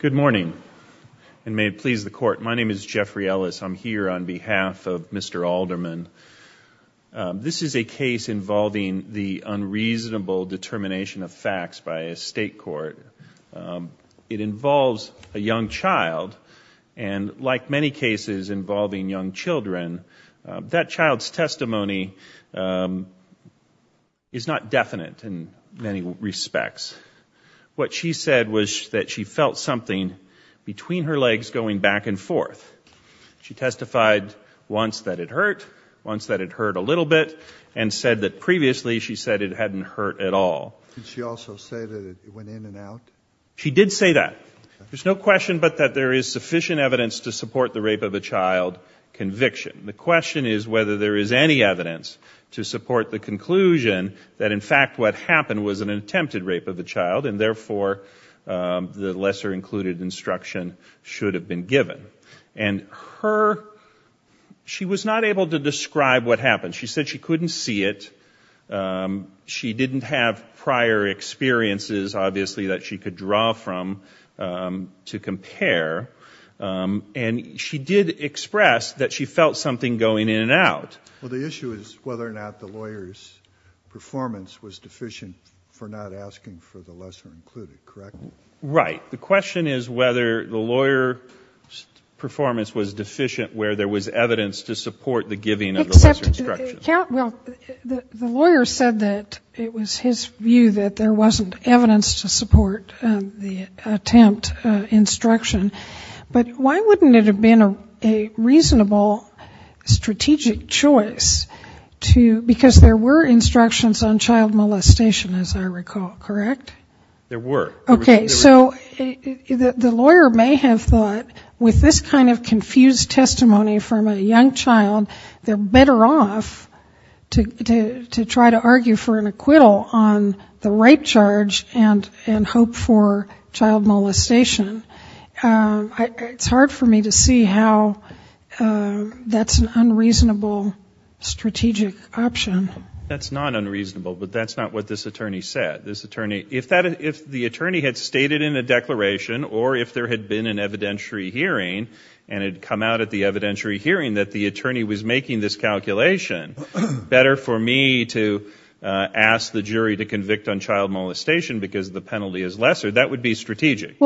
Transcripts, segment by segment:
Good morning, and may it please the court. My name is Jeffrey Ellis. I'm here on behalf of Mr. Alderman. This is a case involving the unreasonable determination of facts by a state court. It involves a young child, and like many cases involving young children, that child's testimony is not definite in many respects. What she said was that she felt something between her legs going back and forth. She testified once that it hurt, once that it hurt a little bit, and said that previously she said it hadn't hurt at all. Did she also say that it went in and out? She did say that. There's no question but that there is sufficient evidence to support the rape of a child conviction. The question is whether there is any evidence to support the conclusion that in fact what happened was an attempted rape of a child, and therefore the lesser-included instruction should have been given. She was not able to describe what happened. She said she couldn't see it. She didn't have prior experiences, obviously, that she could draw from to compare. And she did express that she felt something going in and out. Well, the issue is whether or not the lawyer's performance was deficient for not asking for the lesser-included, correct? Right. The question is whether the lawyer's performance was deficient where there was evidence to support the giving of the lesser instruction. Well, the lawyer said that it was his view that there wasn't evidence to support the attempt instruction. But why wouldn't it have been a reasonable strategic choice to, because there were instructions on child molestation, as I recall, correct? There were. Okay, so the lawyer may have thought with this kind of confused testimony from a young child, they're better off to try to argue for an acquittal on the rape charge and hope for child molestation. It's hard for me to see how that's an unreasonable strategic option. That's not unreasonable, but that's not what this attorney said. If the attorney had stated in a declaration or if there had been an evidentiary hearing and it had come out at the evidentiary hearing that the attorney was making this calculation, better for me to ask the jury to convict on child molestation because the penalty is lesser, that would be strategic.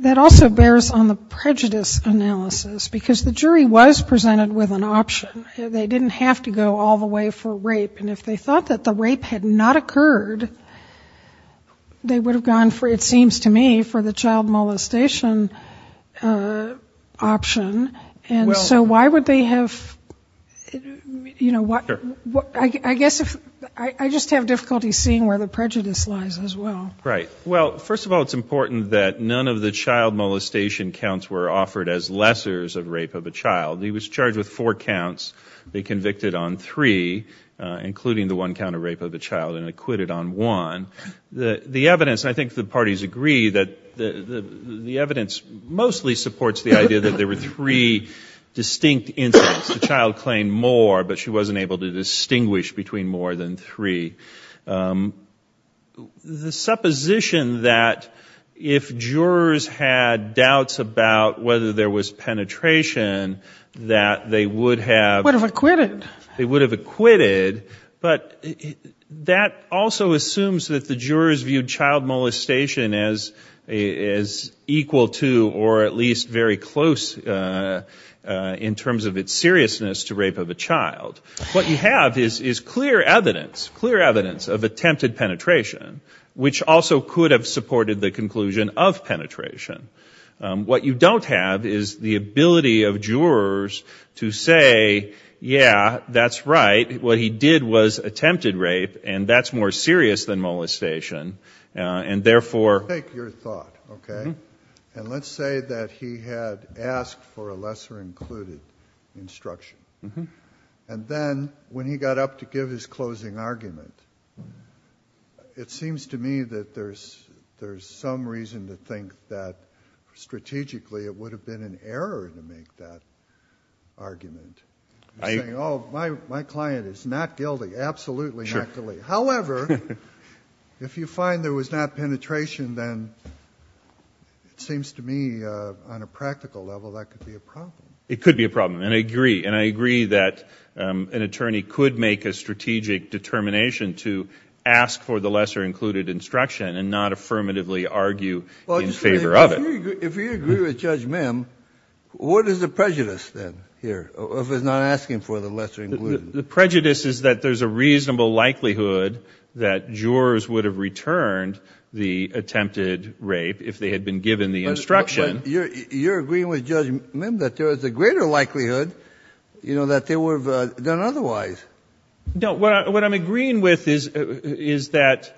That also bears on the prejudice analysis, because the jury was presented with an option. They didn't have to go all the way for rape. And if they thought that the rape had not occurred, they would have gone, it seems to me, for the child molestation option. And so why would they have, you know, I guess I just have difficulty seeing where the prejudice lies as well. Right. Well, first of all, it's important that none of the child molestation counts were offered as lessors of rape of a child. He was charged with four counts. They convicted on three, including the one count of rape of a child, and acquitted on one. The evidence, and I think the parties agree, that the evidence mostly supports the idea that there were three distinct incidents. The child claimed more, but she wasn't able to distinguish between more than three. The supposition that if jurors had doubts about whether there was penetration, that they would have... Would have acquitted. They would have acquitted, but that also assumes that the jurors viewed child molestation as equal to or at least very close in terms of its seriousness to rape of a child. What you have is clear evidence, clear evidence of attempted penetration, which also could have supported the conclusion of penetration. What you don't have is the ability of jurors to say, yeah, that's right, what he did was attempted rape, and that's more serious than molestation. And therefore... And then when he got up to give his closing argument, it seems to me that there's some reason to think that strategically it would have been an error to make that argument. Saying, oh, my client is not guilty, absolutely not guilty. However, if you find there was not penetration, then it seems to me on a practical level that could be a problem. It could be a problem, and I agree, and I agree that an attorney could make a strategic determination to ask for the lesser included instruction and not affirmatively argue in favor of it. If you agree with Judge Mim, what is the prejudice, then, here, of his not asking for the lesser included? The prejudice is that there's a reasonable likelihood that jurors would have returned the attempted rape if they had been given the instruction. You're agreeing with Judge Mim that there is a greater likelihood that they would have done otherwise. No, what I'm agreeing with is that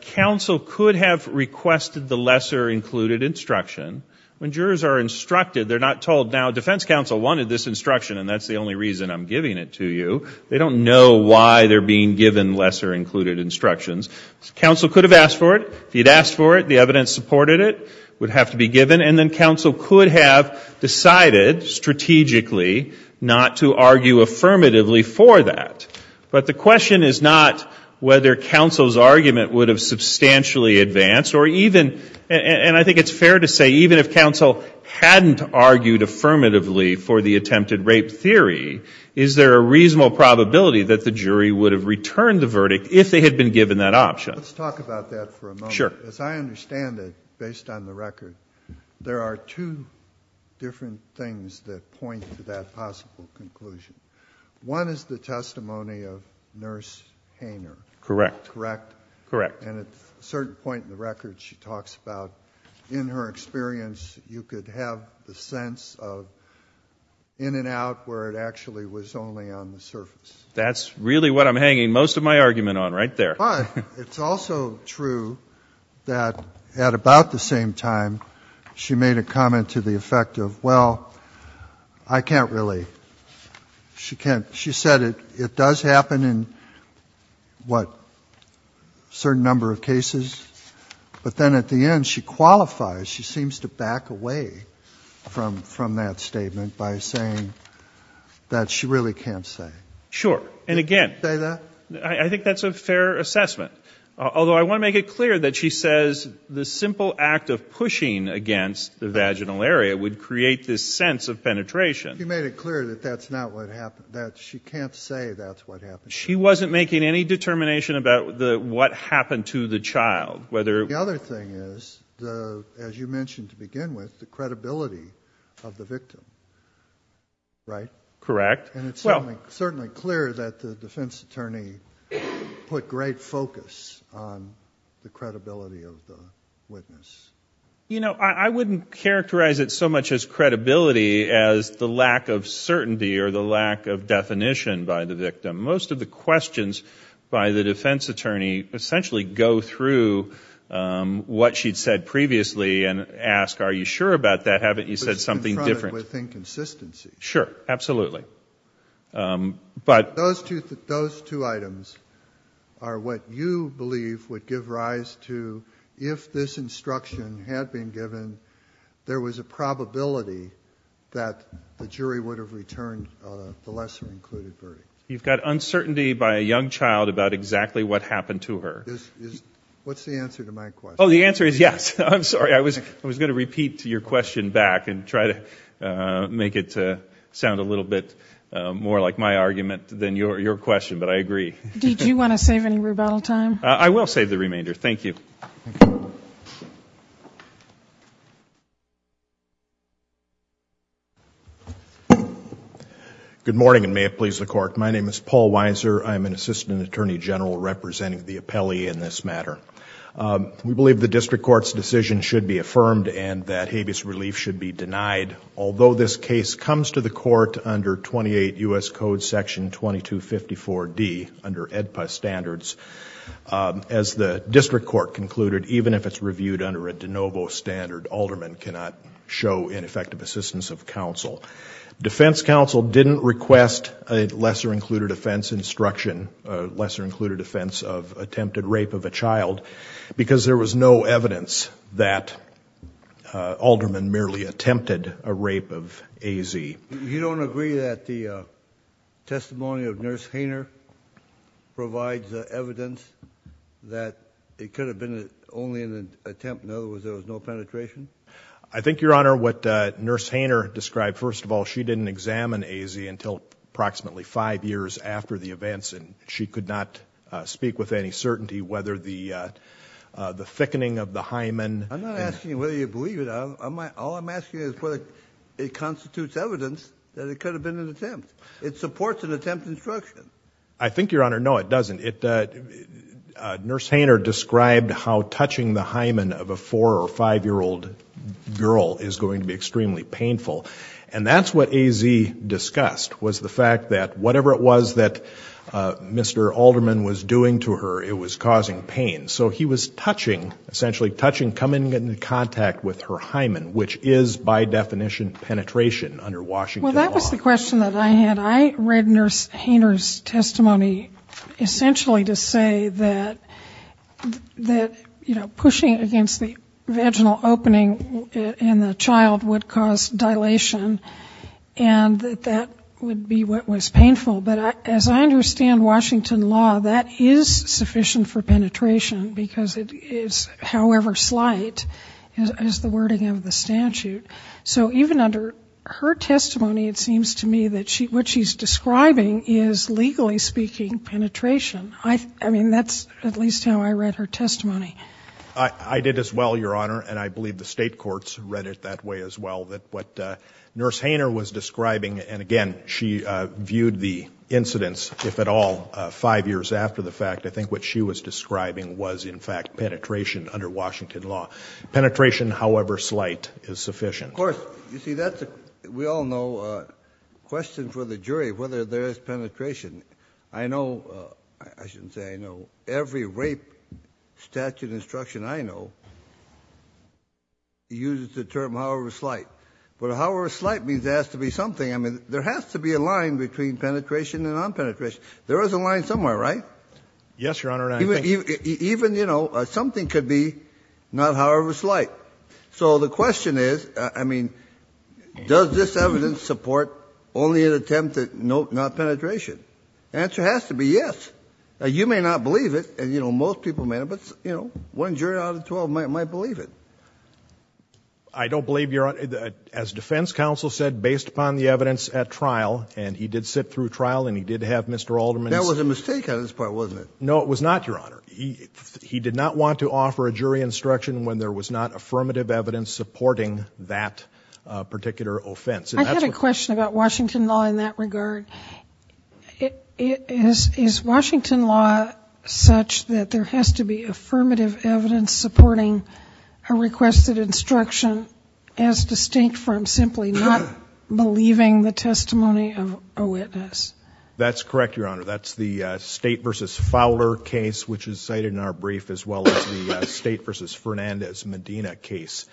counsel could have requested the lesser included instruction. When jurors are instructed, they're not told, now, defense counsel wanted this instruction, and that's the only reason I'm giving it to you. They don't know why they're being given lesser included instructions. Counsel could have asked for it. If he had asked for it, the evidence supported it, it would have to be given, and then counsel could have decided strategically not to argue affirmatively for that. But the question is not whether counsel's argument would have substantially advanced, or even, and I think it's fair to say, even if counsel hadn't argued affirmatively for the attempted rape theory, is there a reasonable probability that the jury would have returned the verdict if they had been given that option? Let's talk about that for a moment. Sure. As I understand it, based on the record, there are two different things that point to that possible conclusion. One is the testimony of Nurse Hainer. Correct. Correct. And at a certain point in the record, she talks about in her experience, you could have the sense of in and out where it actually was only on the surface. That's really what I'm hanging most of my argument on right there. But it's also true that at about the same time, she made a comment to the effect of, well, I can't really. She said it does happen in, what, a certain number of cases, but then at the end, she qualifies. She seems to back away from that statement by saying that she really can't say. Sure. And again, I think that's a fair assessment, although I want to make it clear that she says the simple act of pushing against the vaginal area would create this sense of penetration. She made it clear that she can't say that's what happened. She wasn't making any determination about what happened to the child. The other thing is, as you mentioned to begin with, the credibility of the victim, right? Correct. And it's certainly clear that the defense attorney put great focus on the credibility of the witness. You know, I wouldn't characterize it so much as credibility as the lack of certainty or the lack of definition by the victim. Most of the questions by the defense attorney essentially go through what she'd said previously and ask, are you sure about that? Haven't you said something different? But it's confronted with inconsistency. Sure, absolutely. Those two items are what you believe would give rise to, if this instruction had been given, there was a probability that the jury would have returned the lesser included verdict. You've got uncertainty by a young child about exactly what happened to her. What's the answer to my question? Oh, the answer is yes. I'm sorry. I was going to repeat your question back and try to make it sound a little bit more like my argument than your question. But I agree. Did you want to save any rebuttal time? I will save the remainder. Thank you. Thank you. Good morning and may it please the court. My name is Paul Weiser. I'm an assistant attorney general representing the appellee in this matter. We believe the district court's decision should be affirmed and that habeas relief should be denied. Although this case comes to the court under 28 U.S. standards, a lesser included, even if it's reviewed under a de novo standard, alderman cannot show ineffective assistance of counsel. Defense counsel didn't request a lesser included offense instruction, a lesser included offense of attempted rape of a child, because there was no evidence that alderman merely attempted a rape of AZ. You don't agree that the testimony of Nurse Hainer provides evidence that it could have been only an attempt, in other words, there was no penetration? I think, Your Honor, what Nurse Hainer described, first of all, she didn't examine AZ until approximately five years after the events and she could not speak with any certainty whether the thickening of the hymen... I'm not asking whether you believe it. All I'm asking is whether it constitutes evidence that it could have been an attempt. It supports an attempt instruction. I think, Your Honor, no, it doesn't. Nurse Hainer described how touching the hymen of a four- or five-year-old girl is going to be extremely painful. And that's what AZ discussed, was the fact that whatever it was that Mr. Alderman was doing to her, it was causing pain. So he was touching, essentially touching, coming into contact with her hymen, which is, by definition, penetration under Washington law. That's the question that I had. I read Nurse Hainer's testimony essentially to say that, you know, pushing against the vaginal opening in the child would cause dilation and that that would be what was painful. But as I understand Washington law, that is sufficient for penetration because it is however slight as the wording of the statute. So even under her testimony, it seems to me that what she's describing is legally speaking penetration. I mean, that's at least how I read her testimony. I did as well, Your Honor, and I believe the state courts read it that way as well, that what Nurse Hainer was describing, and again, she viewed the incidents, if at all, five years after the fact, I think what she was describing was, in fact, penetration under Washington law. Penetration however slight is what we all know. Question for the jury, whether there is penetration. I know, I shouldn't say I know, every rape statute instruction I know uses the term however slight. But however slight means there has to be something. I mean, there has to be a line between penetration and non-penetration. There is a line somewhere, right? Yes, Your Honor. Even, you know, something could be not however slight. So the question is, I mean, does this evidence support only an attempt at not penetration? The answer has to be yes. You may not believe it, and you know, most people may not, but, you know, one jury out of 12 might believe it. I don't believe, Your Honor. As defense counsel said, based upon the evidence at trial, and he did sit through trial, and he did have Mr. Alderman's. That was a mistake on his part, wasn't it? No, it was not, Your Honor. He did not want to offer a jury instruction when there was not affirmative evidence supporting that particular offense. I have a question about Washington law in that regard. Is Washington law such that there has to be affirmative evidence supporting a requested instruction as distinct from simply not believing the testimony of a witness? That's correct, Your Honor. That's the State v. Fowler case, which is cited in our brief, as well as the State v. Fernandez-Medina case.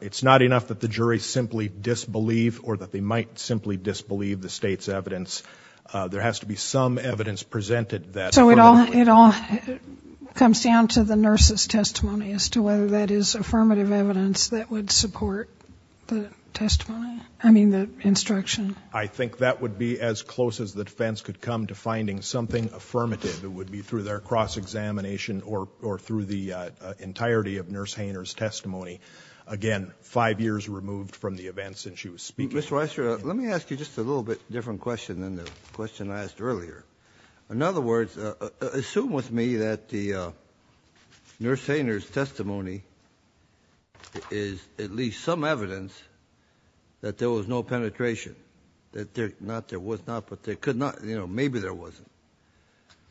It's not enough that the jury simply disbelieve or that they might simply disbelieve the State's evidence. There has to be some evidence presented that So it all comes down to the nurse's testimony as to whether that is affirmative evidence that would support the testimony, I mean, the instruction. I think that would be as close as the defense could come to finding something affirmative. It would be through their cross-examination or through the entirety of nurse Hainer's testimony. Again, five years removed from the event since she was speaking. Mr. Weisser, let me ask you just a little bit different question than the question I asked earlier. In other words, assume with me that the nurse Hainer's testimony is at least some evidence that there was no penetration, that there was not, but there could not, you know, maybe there wasn't,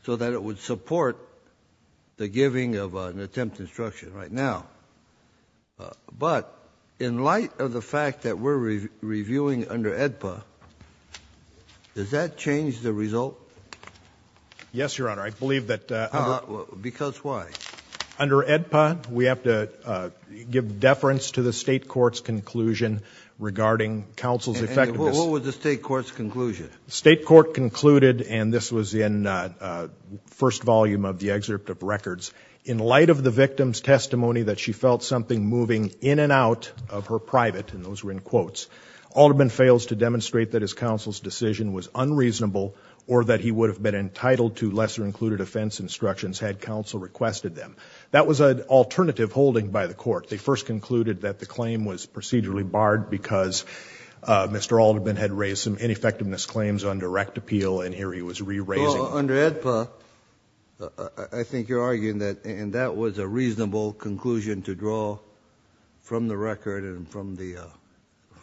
so that it would support the giving of an attempt to instruction right now. But, in light of the fact that we're reviewing under AEDPA, does that change the result? Yes, Your Honor. I believe that... Because why? Under AEDPA, we have to give deference to the State Court's conclusion regarding counsel's effectiveness... And what was the State Court's conclusion? The State Court concluded, and this was in the first volume of the excerpt of records, in light of the victim's testimony that she felt something moving in and out of her private, and those were in quotes, Alderman fails to demonstrate that his counsel's decision was unreasonable or that he would have been entitled to lesser-included offense instructions had counsel requested them. That was an alternative holding by the court. They first concluded that the claim was procedurally barred because Mr. Alderman had raised some ineffectiveness claims on direct appeal, and here he was re-raising... Well, under AEDPA, I think you're arguing that, and that was a reasonable conclusion to draw from the record and from the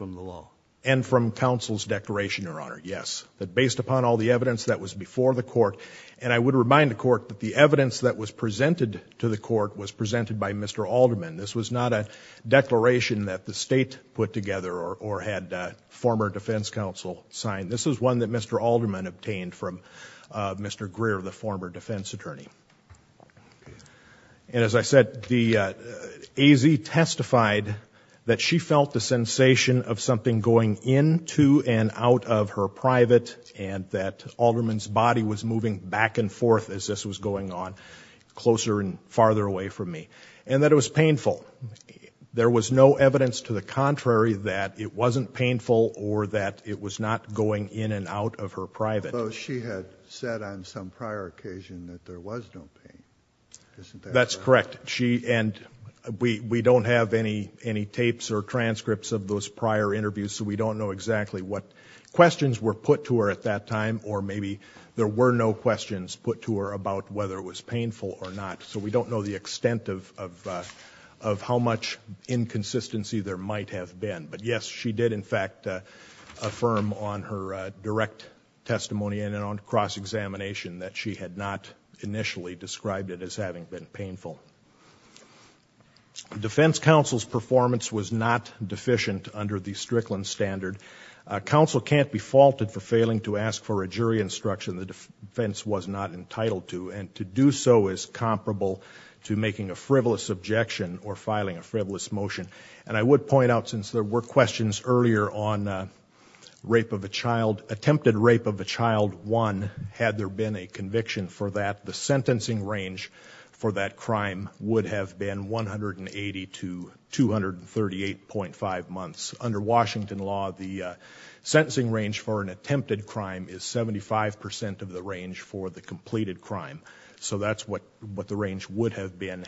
law. And from counsel's declaration, Your Honor, yes. That based upon all the evidence that was before the court, and I would remind the court that the evidence that was presented to the court was presented by Mr. Alderman. This was not a declaration that the State put together or had former defense counsel sign. This was one that Mr. Alderman obtained from Mr. Greer, the former defense attorney. And as I said, the AZ testified that she felt the sensation of something going into and out of her private, and that Alderman's body was moving back and forth as this was going on closer and farther away from me, and that it was painful. There was no evidence to the contrary that it wasn't painful or that it was not going in and out of her private. Although she had said on some prior occasion that there was no pain. That's correct. And we don't have any tapes or transcripts of those prior interviews, so we don't know exactly what questions were put to her at that time, or maybe there were no questions put to her about whether it was painful or not. So we don't know the extent of how much inconsistency there might have been. But yes, she did in fact affirm on her direct testimony and on cross-examination that she had not initially described it as having been painful. Defense counsel's performance was not deficient under the Strickland standard. Counsel can't be faulted for failing to ask for a jury instruction the defense was not entitled to, and to do so is comparable to making a frivolous objection or filing a frivolous motion. And I would point out, since there were questions earlier on attempted rape of a child 1, had there been a conviction for that, the sentencing range for that crime would have been 180 to 238.5 months. Under Washington law, the sentencing range for an attempted crime is 75% of the range for the completed crime. So that's what the range would have been.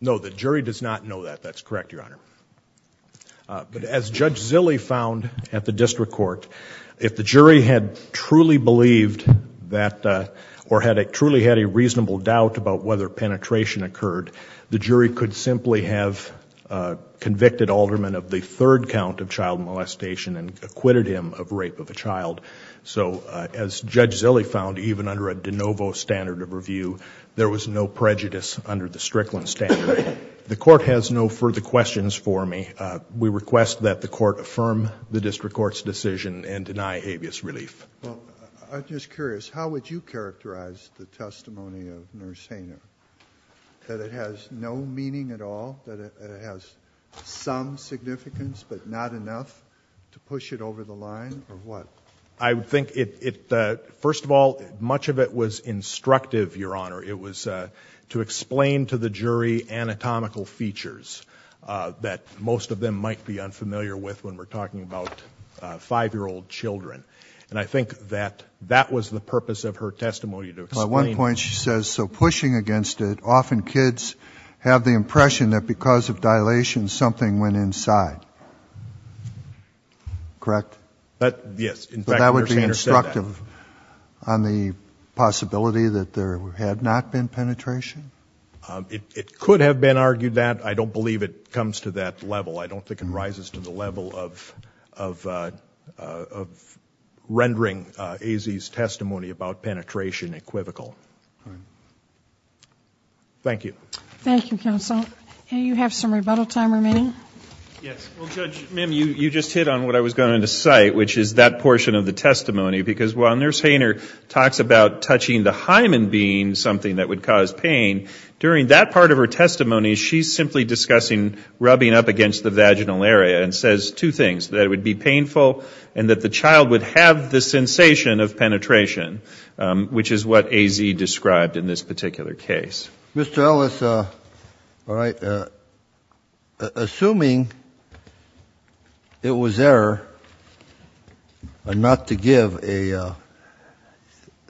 No, the jury does not know that. That's correct, Your Honor. But as Judge Zille found at the district court, if the jury had truly believed that, or had truly had a reasonable doubt about whether penetration occurred, the jury could simply have convicted Alderman of the third count of child molestation and acquitted him of rape of a child. So as Judge Zille found, even under a de novo standard of review, there was no prejudice under the Strickland standard. The court has no further questions for me. We request that the court affirm the district court's decision and deny habeas relief. I'm just curious, how would you characterize the testimony of Nurse Hainer? That it has no meaning at all? That it has some significance, but not enough to push it over the line? Or what? First of all, much of it was instructive, Your Honor. It was to explain to the jury anatomical features that most of them might be unfamiliar with when we're talking about five-year-old children. And I think that that was the purpose of her testimony. At one point she says, so pushing against it, often kids have the impression that because of dilation, something went inside. Correct? Yes. That would be instructive on the possibility that there had not been penetration? It could have been argued that. I don't believe it comes to that level. I don't think it rises to the level of rendering AZ's testimony about penetration equivocal. Thank you. Thank you, Counsel. You have some rebuttal time remaining? Yes. Well, Judge, ma'am, you just hit on what I was going to cite, which is that portion of the testimony. Because while Nurse Hainer talks about touching the hymen being something that would cause pain, during that part of her testimony she's simply discussing rubbing up against the vaginal area and says two things, that it would be painful and that the child would have the sensation of penetration, which is what AZ described in this particular case. Mr. Ellis, assuming it was error not to give a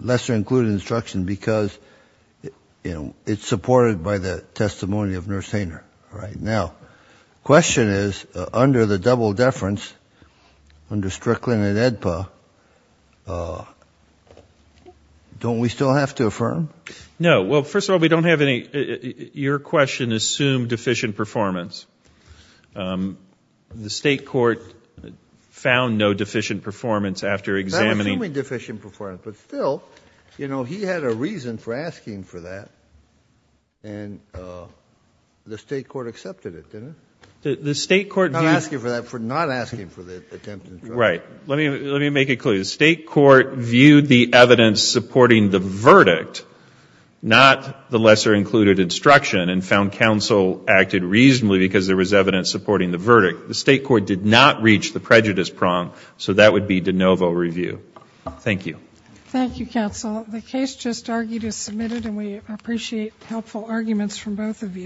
lesser-included instruction because it's supported by the testimony of Nurse Hainer. Now, the question is under the double deference, under Strickland and AEDPA, don't we still have to affirm? No. Well, first of all, we don't have any... Your question assumed deficient performance. The State Court found no deficient performance after examining... I'm not assuming deficient performance, but still, you know, he had a reason for asking for that and the State Court accepted it, didn't it? The State Court... Not asking for that, not asking for the attempt Right. Let me make it clear. The State Court viewed the evidence supporting the verdict, not the lesser-included instruction and found counsel acted reasonably because there was evidence supporting the verdict. The State Court did not reach the prejudice prong, so that would be de novo review. Thank you. Thank you, counsel. The case just argued is submitted and we appreciate helpful arguments from both of you.